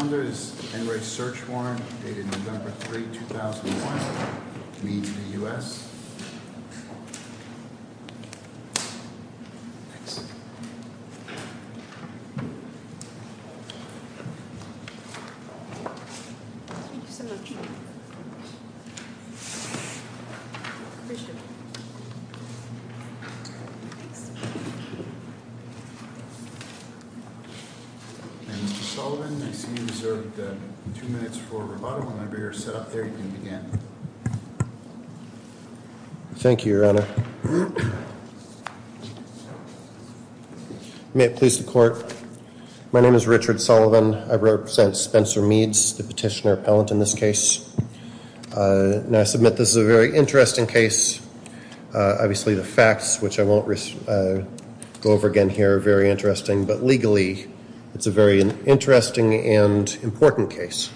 to lead to the U.S. Thanks. Thank you so much. Appreciate it. Thanks. And Mr. Sullivan, I see you in the second row. You deserve two minutes for rebuttal whenever you're set up there, you can begin. Thank you, Your Honor. May it please the Court. My name is Richard Sullivan. I represent Spencer Meads, the petitioner appellant in this case, and I submit this is a very interesting case. Obviously, the facts, which I won't go over again here, are very interesting, but legally, it's a very interesting and important case.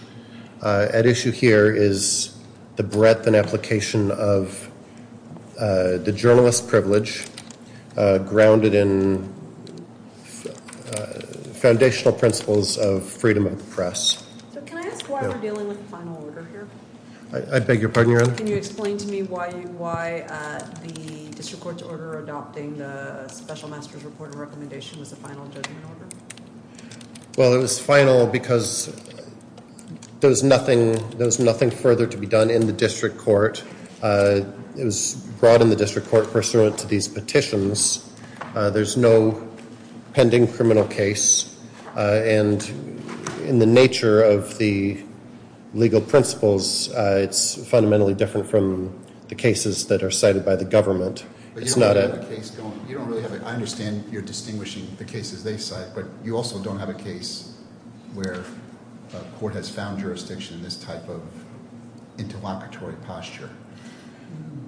At issue here is the breadth and application of the journalist privilege grounded in foundational principles of freedom of the press. So can I ask why we're dealing with the final order here? I beg your pardon, Your Honor? Can you explain to me why the district court's order adopting the special master's report recommendation was a final judgment order? Well, it was final because there was nothing further to be done in the district court. It was brought in the district court pursuant to these petitions. There's no pending criminal case, and in the nature of the legal principles, it's fundamentally different from the cases that are cited by the government. I understand you're distinguishing the cases they cite, but you also don't have a case where a court has found jurisdiction in this type of interlocutory posture.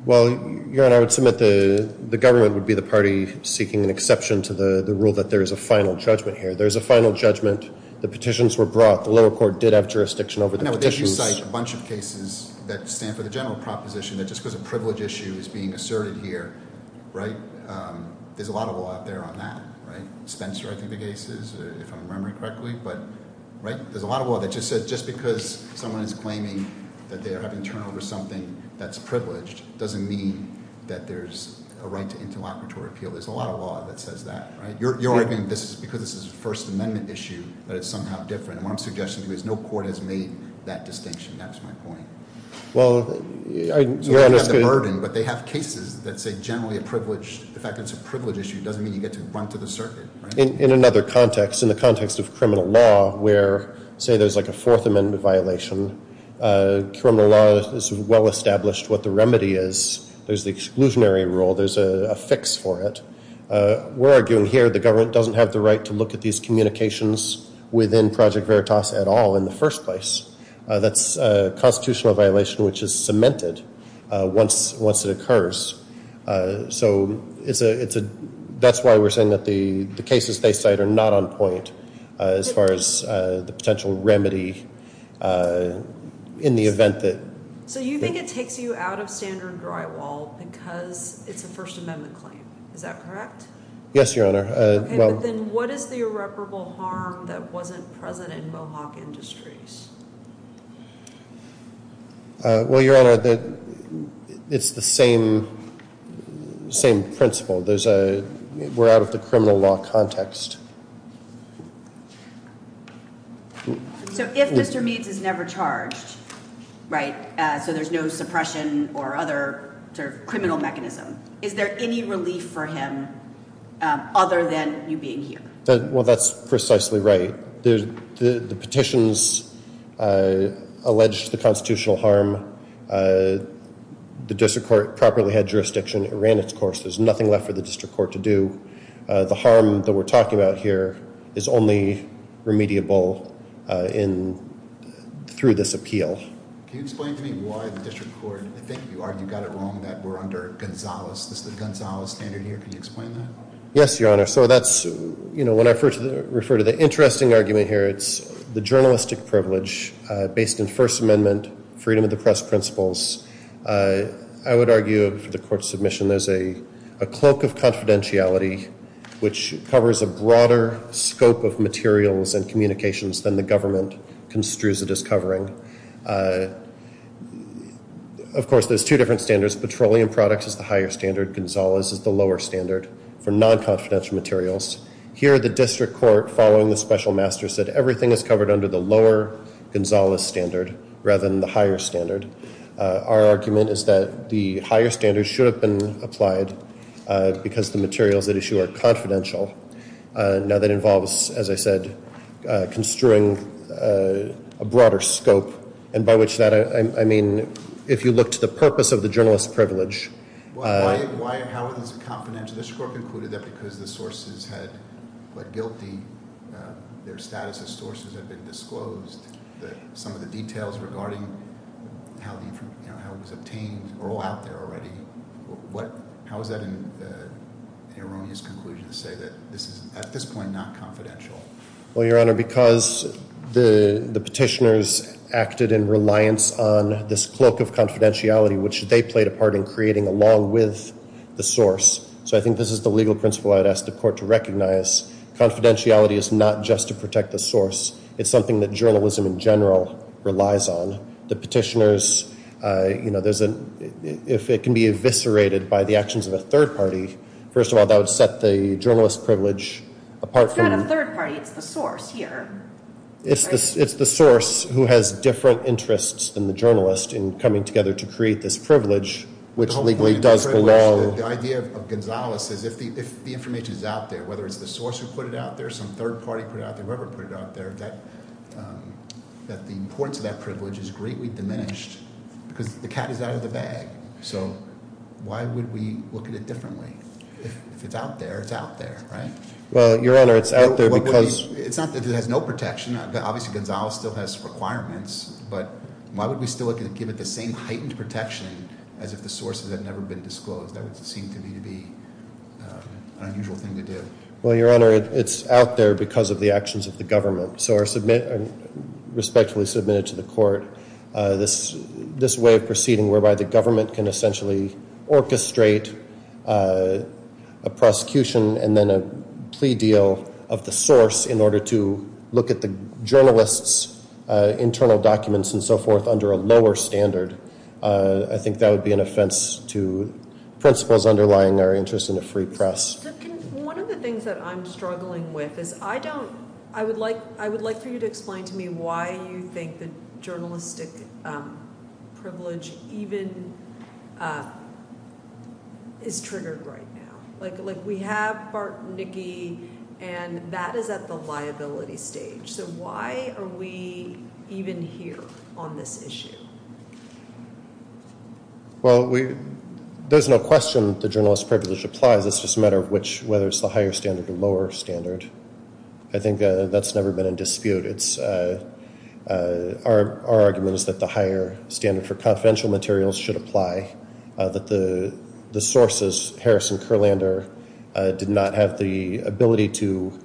Well, Your Honor, I would submit the government would be the party seeking an exception to the rule that there is a final judgment here. There is a final judgment. The petitions were brought. The lower court did have jurisdiction over the petitions. I know that you cite a bunch of cases that stand for the general proposition that just because a privilege issue is being asserted here, there's a lot of law out there on that. Spencer, I think the case is, if I'm remembering correctly. There's a lot of law that just because someone is claiming that they're having to turn over something that's privileged doesn't mean that there's a right to interlocutory appeal. There's a lot of law that says that. You're arguing because this is a First Amendment issue that it's somehow different. What I'm suggesting to you is no court has made that distinction. That's my point. You have the burden, but they have cases that say generally a privilege. The fact that it's a privilege issue doesn't mean you get to run to the circuit. In another context, in the context of criminal law where say there's like a Fourth Amendment violation, criminal law is well established what the remedy is. There's the exclusionary rule. There's a fix for it. We're arguing here the government doesn't have the right to look at these communications within Project Veritas at all in the first place. That's a constitutional violation which is cemented once it occurs. So that's why we're saying that the cases they cite are not on point as far as the potential remedy in the event that... So you think it takes you out of standard drywall because it's a First Amendment claim. Is that correct? Yes, Your Honor. Okay, but then what is the irreparable harm that wasn't present in Mohawk Industries? Well, Your Honor, it's the same principle. We're out of the criminal law context. So if Mr. Meads is never charged, right, so there's no suppression or other sort of than you being here. Well, that's precisely right. The petitions allege the constitutional harm. The district court properly had jurisdiction. It ran its course. There's nothing left for the district court to do. The harm that we're talking about here is only remediable through this appeal. Can you explain to me why the district court... I think you got it wrong that we're under Gonzales. Is this the Gonzales standard here? Can you explain that? Yes, Your Honor. So that's, you know, when I refer to the interesting argument here, it's the journalistic privilege based in First Amendment, freedom of the press principles. I would argue for the court's submission there's a cloak of confidentiality which covers a broader scope of materials and communications than the government construes it as covering. Of course, there's two different standards. Petroleum products is the higher standard. Gonzales is the lower standard for non-confidential materials. Here the district court, following the special master, said everything is covered under the lower Gonzales standard rather than the higher standard. Our argument is that the higher standard should have been applied because the materials at issue are confidential. Now, that involves, as I said, construing a broader scope and by which that, I mean, if you look to the purpose of the journalist's privilege... How is it confidential? The district court concluded that because the sources had pled guilty, their status as sources had been disclosed. Some of the details regarding how it was obtained are all out there already. How is that an erroneous conclusion to say that this is, at this point, not confidential? Well, Your Honor, because the petitioners acted in reliance on this cloak of confidentiality, which they played a part in creating along with the source. So I think this is the legal principle I'd ask the court to recognize. Confidentiality is not just to protect the source. It's something that journalism in general relies on. The petitioners, you know, there's a... If it can be eviscerated by the actions of a third party, first of all, that would set the journalist's privilege apart from... It's not a third party. It's the source here. It's the source who has different interests than the journalist in coming together to create this privilege, which legally does belong... The idea of Gonzales is if the information is out there, whether it's the source who put it out there, some third party put it out there, whoever put it out there, that the importance of that privilege is greatly diminished because the cat is out of the bag. So why would we look at it differently? If it's out there, it's out there, right? Well, Your Honor, it's out there because... It's not that it has no protection. Obviously, Gonzales still has requirements, but why would we still look at it and give it the same heightened protection as if the source had never been disclosed? That would seem to me to be an unusual thing to do. Well, Your Honor, it's out there because of the actions of the government. So I respectfully submit it to the court, this way of proceeding whereby the government can essentially orchestrate a prosecution and then a plea deal of the source in order to look at the journalist's internal documents and so forth under a lower standard. I think that would be an offense to principles underlying our interest in a free press. One of the things that I'm struggling with is I don't... I would like for you to explain to me why you think the journalistic privilege even is triggered right now. Like, we have Bart and Nikki, and that is at the liability stage. So why are we even here on this issue? Well, we... There's no question the journalist's privilege applies. It's just a matter of which... whether it's the higher standard or lower standard. I think that's never been in dispute. It's, uh... Our argument is that the higher standard for confidential materials should apply, that the sources, Harris and Kurlander, did not have the ability to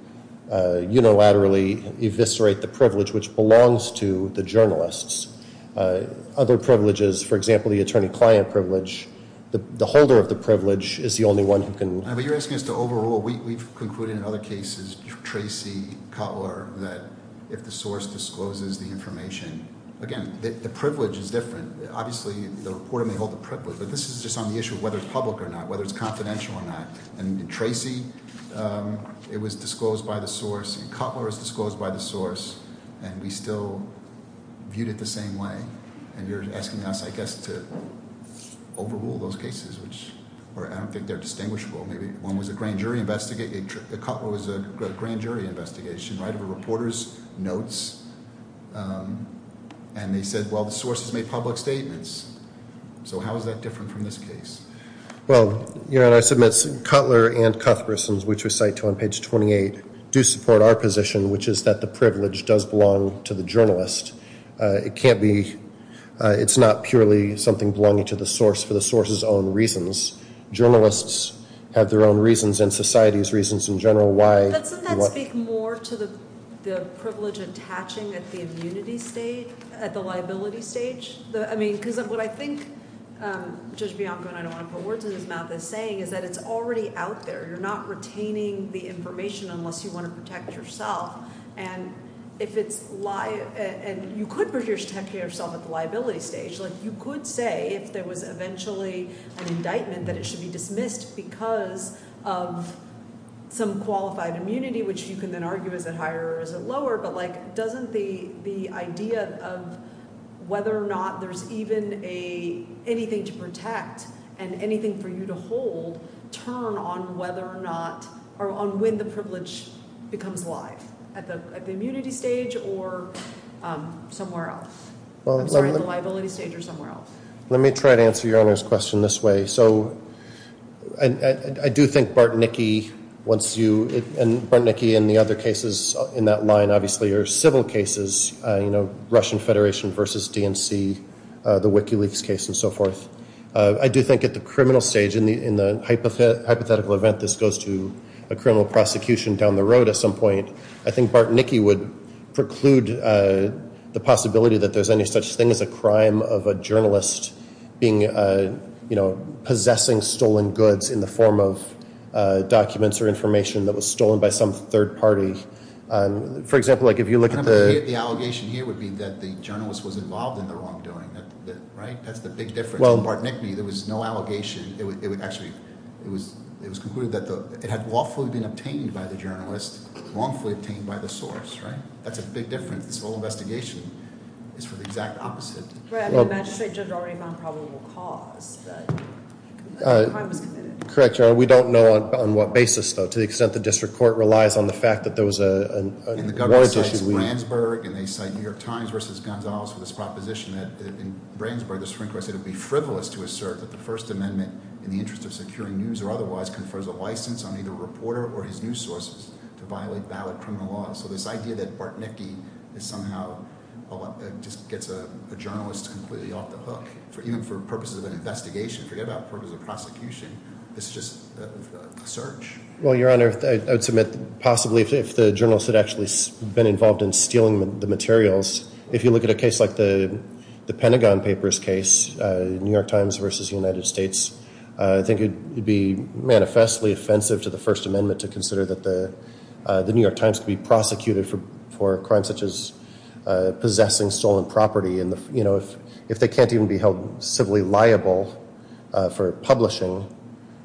unilaterally eviscerate the privilege which belongs to the journalists. Other privileges, for example, the attorney-client privilege, the holder of the privilege is the only one who can... But you're asking us to overrule. We've concluded in other cases, Tracy, Cutler, that if the source discloses the information... Again, the privilege is different. Obviously, the reporter may hold the privilege, but this is just on the issue of whether it's public or not, whether it's confidential or not. In Tracy, it was disclosed by the source, in Cutler, it was disclosed by the source, and we still viewed it the same way. And you're asking us, I guess, to overrule those cases, which I don't think they're distinguishable. Maybe one was a grand jury investigation... Cutler was a grand jury investigation, right? There were reporters' notes, and they said, well, the source has made public statements. So how is that different from this case? Well, your Honor, I submit, Cutler and Cuthbertson's, which we cite on page 28, do support our position, which is that the privilege does belong to the journalist. It can't be... It's not purely something belonging to the source for the source's own reasons. Journalists have their own reasons, and society's reasons in general why... Doesn't that speak more to the privilege attaching at the immunity state, at the liability stage? I mean, because what I think Judge Bianco, and I don't want to put words in his mouth, is saying is that it's already out there. You're not retaining the information unless you want to protect yourself. And if it's... And you could protect yourself at the liability stage. You could say, if there was eventually an indictment, that it should be dismissed because of some qualified immunity, which you can then argue, is it higher or is it lower? But, like, doesn't the idea of whether or not there's even a... anything to protect and anything for you to hold turn on whether or not... on when the privilege becomes live at the immunity stage or somewhere else? I'm sorry, the liability stage or somewhere else? Let me try to answer Your Honor's question this way. So, I do think Bart and Nikki, once you... Bart and Nikki and the other cases in that line, obviously, are civil cases, you know, Russian Federation versus DNC, the WikiLeaks case and so forth. I do think at the criminal stage, in the hypothetical event this goes to a criminal prosecution down the road at some point, I think Bart and Nikki would preclude the possibility that there's any such thing as a crime of a journalist being... you know, possessing stolen goods in the form of documents or information that was stolen by some third party. For example, like if you look at the... The allegation here would be that the journalist was involved in the wrongdoing, right? That's the big difference. Bart and Nikki, there was no allegation it would actually... it was concluded that it had lawfully been obtained by the journalist, wrongfully obtained by the source, right? That's a big difference. This whole investigation is for the exact opposite. The magistrate judge already found probable cause that the crime was committed. Correct, Your Honor. We don't know on what basis though, to the extent the district court relies on the fact that there was a warrant issue. And the government cites Brandsburg, and they cite New York Times versus Gonzales for this proposition that in Brandsburg, the Supreme Court said it would be frivolous to assert that the First Amendment in the interest of securing news or otherwise confers a license on either a reporter or his news sources to violate valid criminal laws. So this idea that Bart and Nikki is somehow... gets a journalist completely off the hook even for purposes of an investigation. Forget about purposes of prosecution. It's just a search. Well, Your Honor, I would submit possibly if the journalist had actually been involved in stealing the materials, if you look at a case like the Pentagon Papers case, New York Times versus the United States, I think it would be manifestly offensive to the First Amendment to consider that the New York Times could be prosecuted for crimes such as possessing stolen property and, you know, if they can't even be held civilly liable for publishing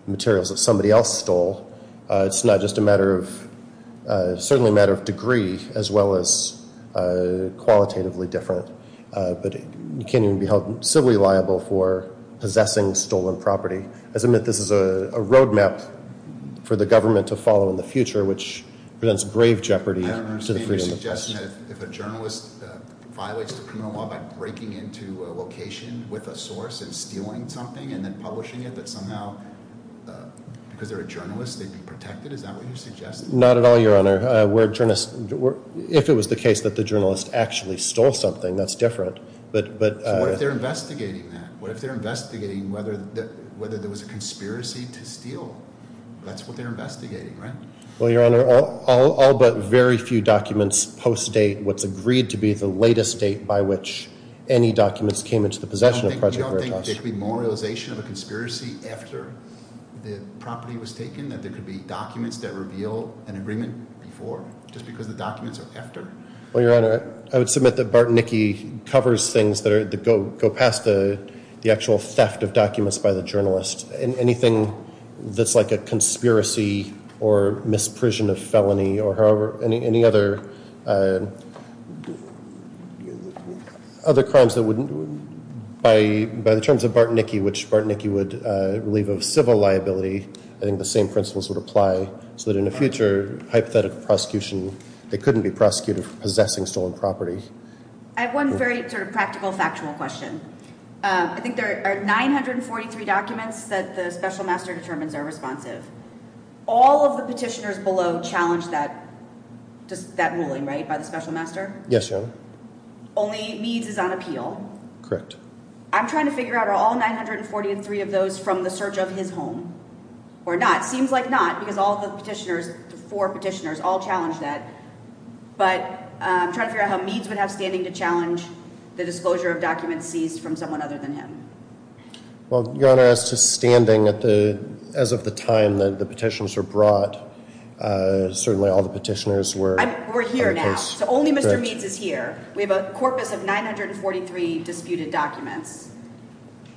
materials that somebody else stole, it's not just a matter of certainly a matter of degree as well as qualitatively different, but you can't even be held civilly liable for possessing stolen property. I submit this is a road map for the government to follow in the future which presents grave jeopardy to the freedom of the press. I don't understand your suggestion that if a journalist violates the criminal law by breaking into a location with a source and stealing something and then publishing it, that somehow because they're a journalist, they'd be protected? Is that what you're suggesting? Not at all, Your Honor. If it was the case that the journalist actually stole something, that's different. So what if they're investigating that? What if they're investigating whether there was a conspiracy to steal? That's what they're investigating, right? Well, Your Honor, all but very few documents post-date what's agreed to be the latest date by which any documents came into the possession of Project Veritas. You don't think there could be more realization of a conspiracy after the property was taken? That there could be documents that reveal an agreement before? Just because the documents are after? Well, Your Honor, I would submit that Bart and Nikki covers things that go past the actual theft of documents by the journalist. Anything that's like a conspiracy or misprision of felony or however, any other other crimes that wouldn't by the terms of Bart and Nikki, which Bart and Nikki would relieve of civil liability, I think the same principles would apply so that in the future, hypothetical prosecution, they couldn't be prosecuted for possessing stolen property. I have one very sort of practical, factual question. I think there are 943 documents that the Special Master determines are responsive. All of the petitioners below challenge that ruling, right, by the Special Master? Yes, Your Honor. Only Meade's is on appeal? Correct. I'm trying to figure out, are all 943 of those from the search of his home or not? Seems like not because all of the petitioners, the four petitioners, all challenge that, but I'm trying to figure out how Meade's would have standing to challenge the disclosure of documents seized from someone other than him. Well, Your Honor, as to standing at the as of the time that the petitions were brought, certainly all the petitioners were We're here now. So only Mr. Meade's is here. We have a corpus of 943 disputed documents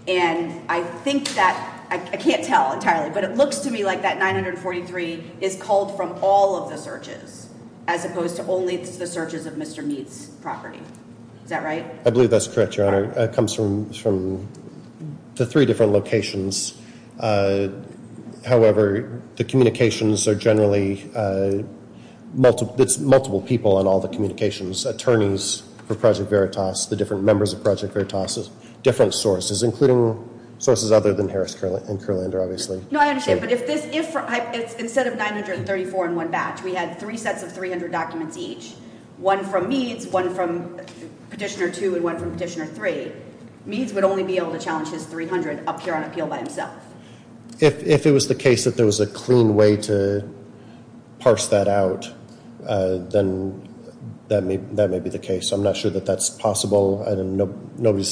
and I think that, I can't tell entirely, but it looks to me like that 943 is called from all of the searches as opposed to only the searches of Mr. Meade's property. Is that right? I believe that's correct, Your Honor. It comes from the three different locations. However, the communications are generally multiple people in all the communications. Attorneys for Project Veritas, the different members of Project Veritas, different sources, including sources other than Harris and Kurlander, obviously. No, I understand, but if this, instead of 934 in one batch, we had three sets of 300 documents each. One from Meade's, one from Petitioner 2 and one from Petitioner 3. Meade's would only be able to challenge his 300 up here on appeal by himself. If it was the case that there was a clean way to parse that out, then that may be the case. I'm not sure that that's possible. I don't know. Nobody's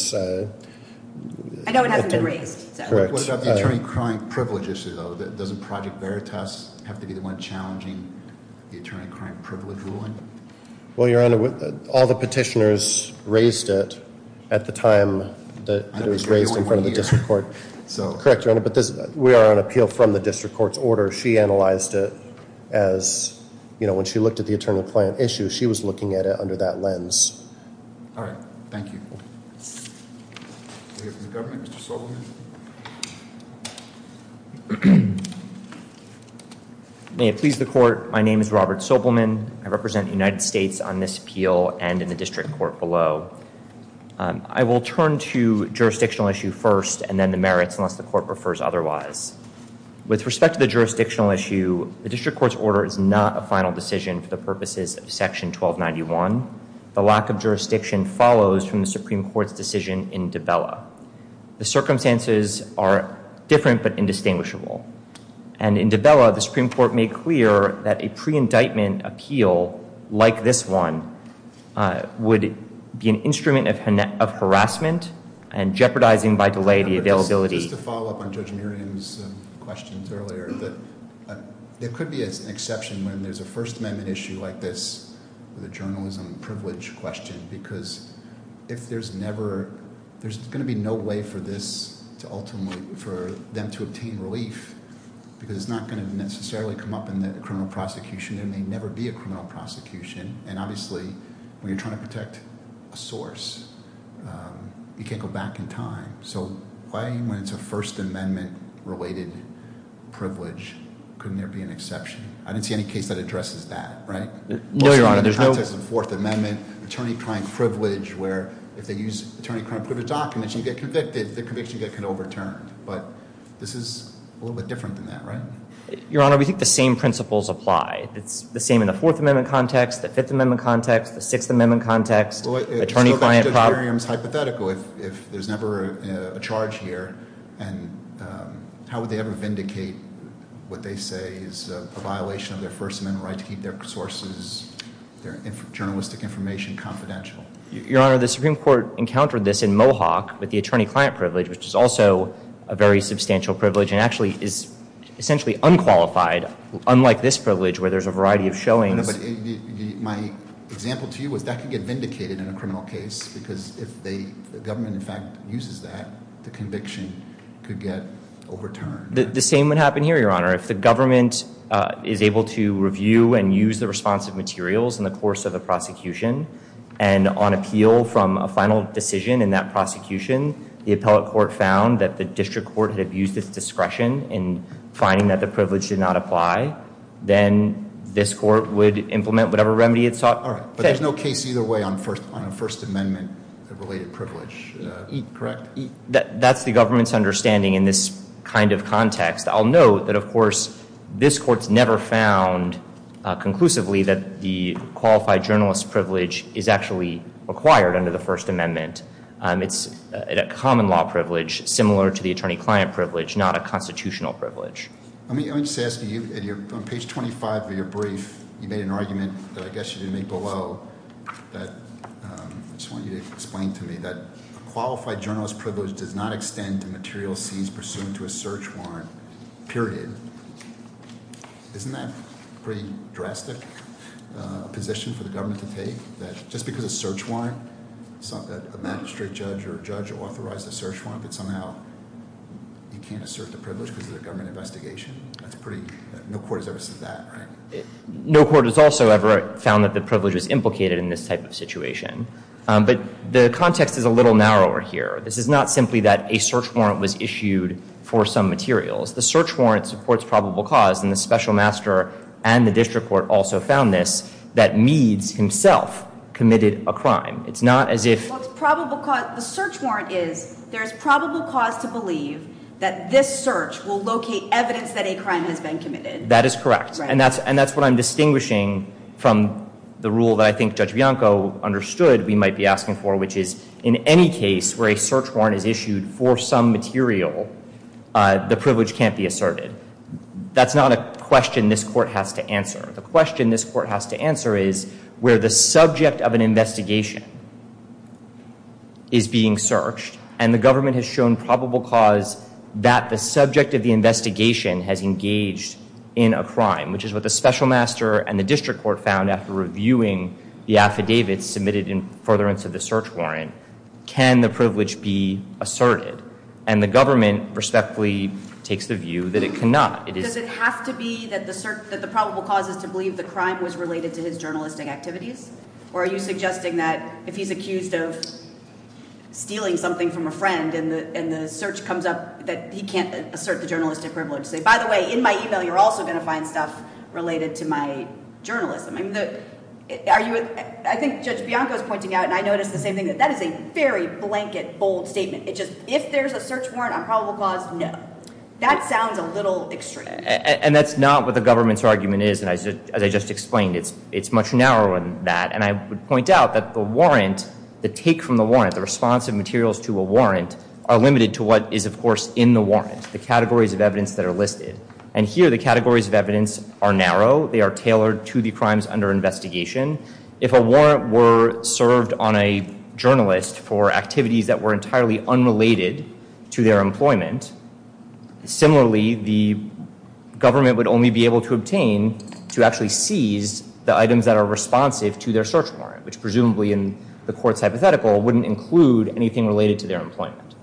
I know it hasn't been raised. What about the attorney-crime privilege issue, though? Doesn't Project Veritas have to be the one challenging the attorney-crime privilege ruling? Well, Your Honor, all the petitioners raised it at the time that it was raised in front of the district court. Correct, Your Honor, but we are on appeal from the district court's order. She analyzed it as you know, when she looked at the attorney-client issue, she was looking at it under that lens. All right. Thank you. May it please the court, my name is Robert Sobelman. I represent the United States on this appeal and in the district court below. I will turn to jurisdictional issue first and then the merits unless the court prefers otherwise. With respect to the jurisdictional issue, the district court's order is not a final decision for the purposes of Section 1291. The lack of jurisdiction follows from the Supreme Court's decision in Dabella. The circumstances are different but indistinguishable and in Dabella, the Supreme Court made clear that a pre-indictment appeal like this one would be an instrument of harassment and jeopardizing by delay the availability. Just to follow up on Judge Miriam's questions earlier there could be an exception when there's a First Amendment issue like this with a journalism privilege question because if there's never there's going to be no way for this for them to obtain relief because it's not going to necessarily come up in the criminal prosecution there may never be a criminal prosecution and obviously when you're trying to protect a source you can't go back in time so why when it's a First Amendment related privilege couldn't there be an exception? I didn't see any case that addresses that, right? No, Your Honor, there's no Fourth Amendment, attorney-client privilege where if they use attorney-client privilege documents you get convicted, the conviction gets overturned but this is a little bit different than that, right? Your Honor, we think the same principles apply it's the same in the Fourth Amendment context the Fifth Amendment context, the Sixth Amendment context attorney-client problem If there's never a charge here how would they ever vindicate what they say is a violation of their First Amendment right to keep their sources, their journalistic information confidential? Your Honor, the Supreme Court encountered this in Mohawk with the attorney-client privilege which is also a very substantial privilege and actually is essentially unqualified unlike this privilege where there's a variety of showings My example to you is that could get vindicated in a criminal case because if the government in fact uses that the conviction could get overturned. The same would happen here, Your Honor if the government is able to review and use the responsive materials in the course of the prosecution and on appeal from a final decision in that prosecution the appellate court found that the district court had abused its discretion in finding that the privilege did not apply, then this court would implement whatever remedy it sought. But there's no case either way on First Amendment related privilege, correct? That's the government's understanding in this kind of context. I'll note that of course this court's never found conclusively that the qualified journalist's privilege is actually acquired under the First Amendment. It's a common law privilege similar to the attorney-client privilege, not a constitutional privilege. Let me just ask you on page 25 of your brief you made an argument that I guess you didn't make below that I just want you to explain to me that qualified journalist's privilege does not extend to material seized pursuant to a search warrant, period. Isn't that pretty drastic a position for the government to take that just because a search warrant a magistrate judge or judge authorized a search warrant that somehow he can't assert the privilege because it's a government investigation? No court has ever said that, right? No court has also ever found that the privilege was implicated in this type of situation. But the context is a little narrower here. This is not simply that a search warrant was issued for some materials. The search warrant supports probable cause and the special master and the district court also found this that Meads himself committed a crime. It's not as if The search warrant is there's probable cause to believe that this search will locate evidence that a crime has been committed. That is correct. And that's what I'm distinguishing from the rule that I think Judge Bianco understood we might be asking for which is in any case where a search warrant is issued for some material the privilege can't be asserted. That's not a question this court has to answer. The question this court has to answer is where the subject of an investigation is being searched and the government has shown probable cause that the subject of the investigation has engaged in a crime which is what the special master and the district court found after reviewing the affidavits submitted in furtherance of the search warrant can the privilege be asserted and the government respectfully takes the view that it cannot. Does it have to be that the probable cause is to believe the crime was related to his journalistic activities or are you suggesting that if he's accused of stealing something from a friend and the search comes up that he can't assert the journalistic privilege say by the way in my email you're also going to find stuff related to my journalism. I think Judge Bianco is pointing out and I noticed the same thing that that is a very blanket bold statement. It's just if there's a search warrant on probable cause, no. That sounds a little extreme. And that's not what the government's argument is and as I just explained it's much narrower than that and I would point out that the warrant, the take from the warrant, the response of materials to a warrant are limited to what is of course in the warrant. The categories of evidence that are listed. And here the categories of evidence are narrow. They are tailored to the crimes under investigation. If a warrant were served on a journalist for activities that were entirely unrelated to their employment similarly the government would only be able to obtain to actually seize the items that are responsive to their search warrant which presumably in the court's hypothetical wouldn't include anything related to their employment.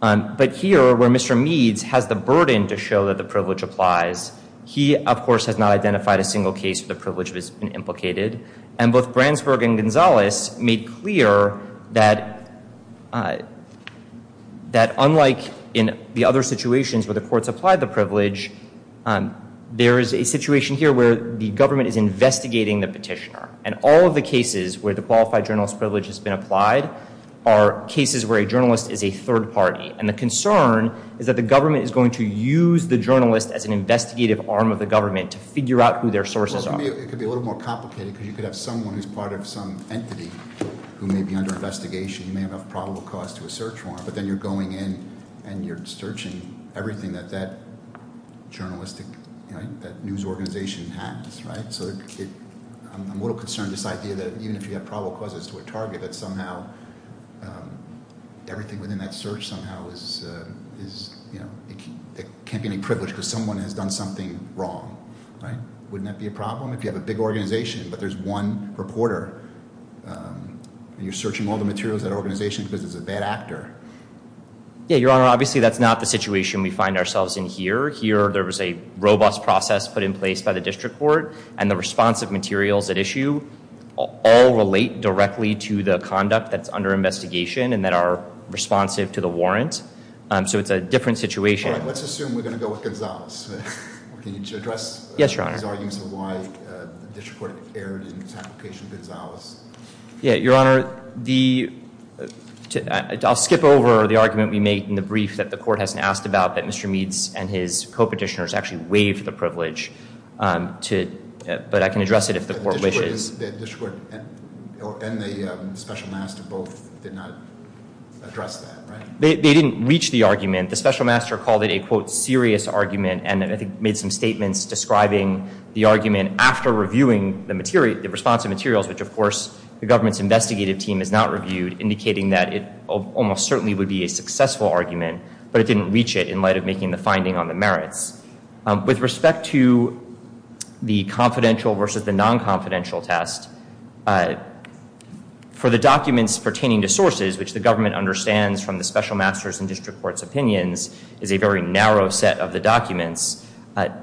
But here where Mr. Meads has the burden to show that the privilege applies he of course has not identified a single case where the privilege has been implicated and both Brandsburg and Gonzalez made clear that that unlike in the other situations where the courts apply the privilege there is a situation here where the government is investigating the petitioner and all of the cases where the qualified journalist privilege has been applied are cases where a journalist is a third party and the concern is that the government is going to use the journalist as an investigative arm of the government to figure out who their sources are. It could be a little more complicated because you could have someone who's part of some entity who may be under investigation who may have a probable cause to a search warrant but then you're going in and you're searching everything that journalistic news organization has. I'm a little concerned this idea that even if you have probable causes to a target that somehow everything within that search somehow can't be any privilege because someone has done something wrong. Wouldn't that be a problem if you have a big organization but there's one reporter and you're searching all the materials that organization because it's a bad actor? Yeah, your honor, obviously that's not the situation we find ourselves in here. Here there was a robust process put in place by the district court and the responsive materials at issue all relate directly to the conduct that's under investigation and that are responsive to the warrant so it's a different situation. Let's assume we're going to go with Gonzales. Can you address these arguments of why the district court erred in its application to Gonzales? Yeah, your honor, I'll skip over the argument we made in the brief that the court hasn't asked about that Mr. Meads and his co-petitioners actually waived the but I can address it if the court wishes. The district court and the special master both did not address that, right? They didn't reach the argument. The special master called it a quote serious argument and I think made some statements describing the argument after reviewing the responsive materials which of course the government's investigative team has not reviewed indicating that it almost certainly would be a successful argument but it didn't reach it in light of making the finding on the merits. With respect to the confidential versus the non-confidential test for the documents pertaining to sources which the government understands from the special masters and district court's opinions is a very narrow set of the documents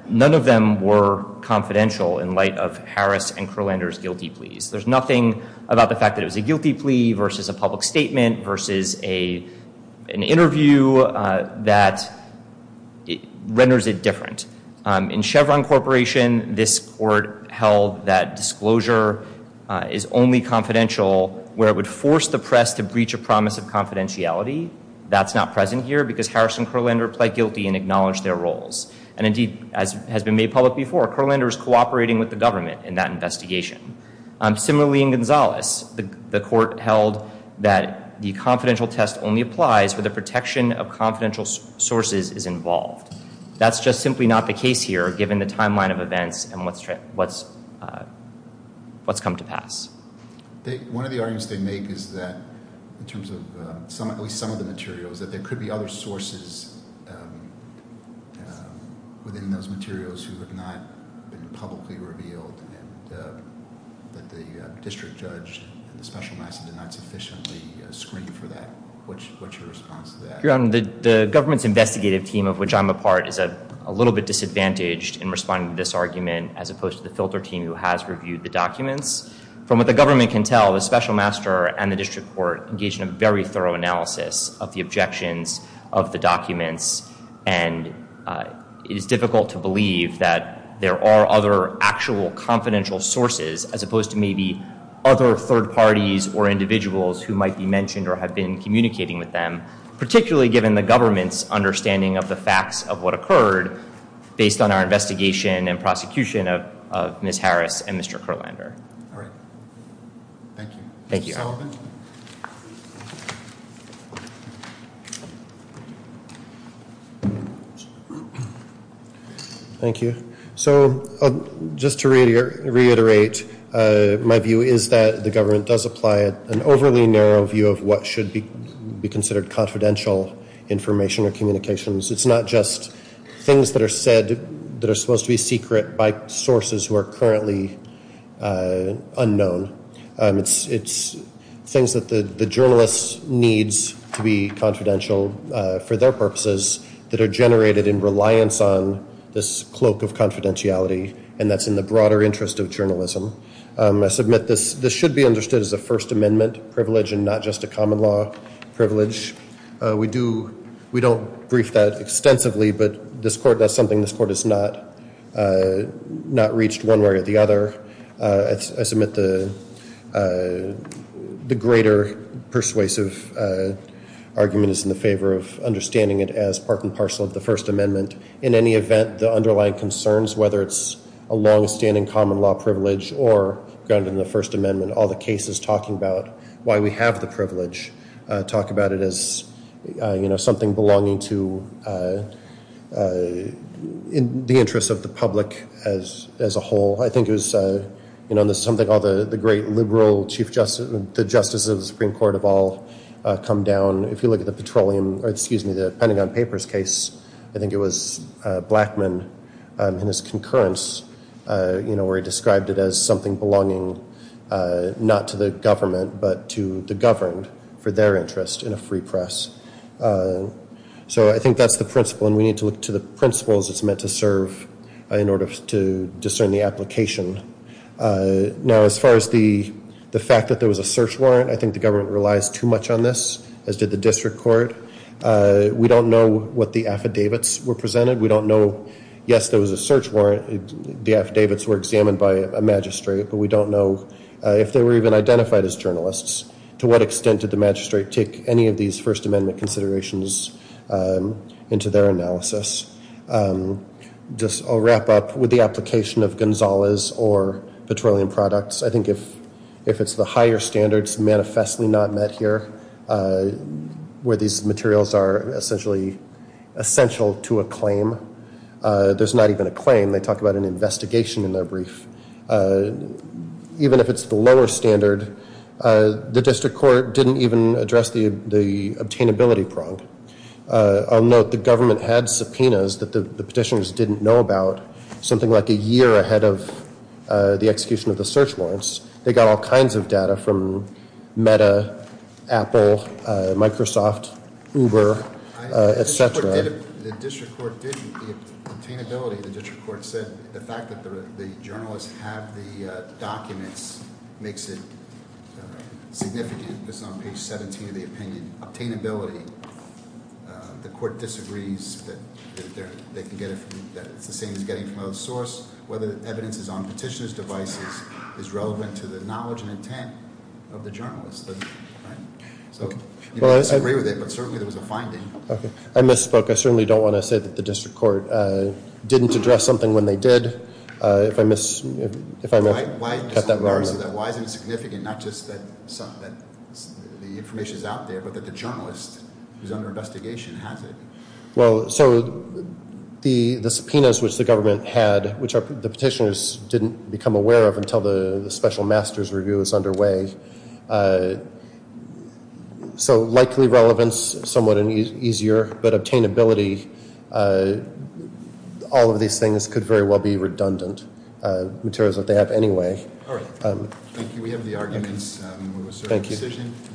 none of them were confidential in light of Harris and Kurlander's guilty pleas. There's nothing about the fact that it was a guilty plea versus a public statement versus an interview that renders it different. In Chevron Corporation this court held that disclosure is only confidential where it would force the press to breach a promise of confidentiality that's not present here because Harris and Kurlander pled guilty and acknowledged their roles and indeed as has been made public before Kurlander is cooperating with the government in that investigation. Similarly in Gonzales the court held that the confidential test only applies where the protection of confidential sources is involved that's just simply not the case here given the timeline of events and what's come to pass. One of the arguments they make is that in terms of at least some of the materials that there could be other sources within those materials who have not been publicly revealed and that the district judge and the special master did not sufficiently screen for that. What's your response to that? The government's investigative team of which I'm a part is a little bit disadvantaged in responding to this argument as opposed to the filter team who has reviewed the documents. From what the government can tell the special master and the district court engaged in a very thorough analysis of the objections of the documents and it is difficult to believe that there are other actual confidential sources as opposed to maybe other third parties or individuals who might be mentioned or have been communicating with them particularly given the government's understanding of the facts of what occurred based on our investigation and prosecution of Ms. Harris and Mr. Kurlander. Alright. Thank you. Thank you. Thank you. So just to reiterate my view is that the government does apply an overly narrow view of what should be considered confidential information or communications. It's not just things that are said that are supposed to be secret by sources who are currently unknown. It's things that the journalist needs to be confidential for their purposes that are generated in reliance on this cloak of confidentiality and that's in the broader interest of journalism. I submit this should be understood as a First Amendment privilege and not just a common law privilege. We do we don't brief that extensively but this court does something this court has not not reached one way or the other. I submit the greater persuasive argument is in the favor of understanding it as part and parcel of the First Amendment. In any event the underlying concerns whether it's a long standing common law privilege or grounded in the First Amendment all the cases talking about why we have the privilege talk about it as something belonging to the interest of the public as a whole. I think it was something the great liberal the justices of the Supreme Court have all come down if you look at the Petroleum or excuse me the Pentagon Papers case I think it was Blackmun in his concurrence where he described it as something belonging not to the government but to the governed for their interest in a free press. So I think that's the principle and we need to look to the principles it's meant to serve in order to discern the application. Now as far as the fact that there was a search warrant I think the government relies too much on this as did the district court we don't know what the affidavits were presented we don't know yes there was a search warrant the affidavits were examined by a magistrate but we don't know if they were even identified as journalists to what extent did the magistrate take any of these First Amendment considerations into their analysis. I'll wrap up with the application of Gonzalez or Petroleum Products I think if it's the higher standards manifestly not met here where these materials are essentially essential to a claim there's not even a claim they talk about an investigation in their brief even if it's the lower standard the district court didn't even address the obtainability prong I'll note the government had subpoenas that the petitioners didn't know about something like a year ahead of the execution of the search warrants they got all kinds of data from Meta, Apple Microsoft Uber, etc. The district court didn't obtainability the district court said the fact that the journalists have the documents makes it significant it's on page 17 of the opinion obtainability the court disagrees that it's the same as getting it from another source whether the evidence is on petitioners devices is relevant to the knowledge and intent of the journalist I agree with it but certainly there was a finding I misspoke, I certainly don't want to say that the district court didn't address something when they did if I missed Why is it significant not just that the information is out there but that the journalist who is under investigation has it Well, so the subpoenas which the government had which the petitioners didn't become aware of until the special master's review was underway so likely relevance somewhat easier but obtainability all of these things could very well be redundant materials that they have anyway Thank you, we have the arguments Thank you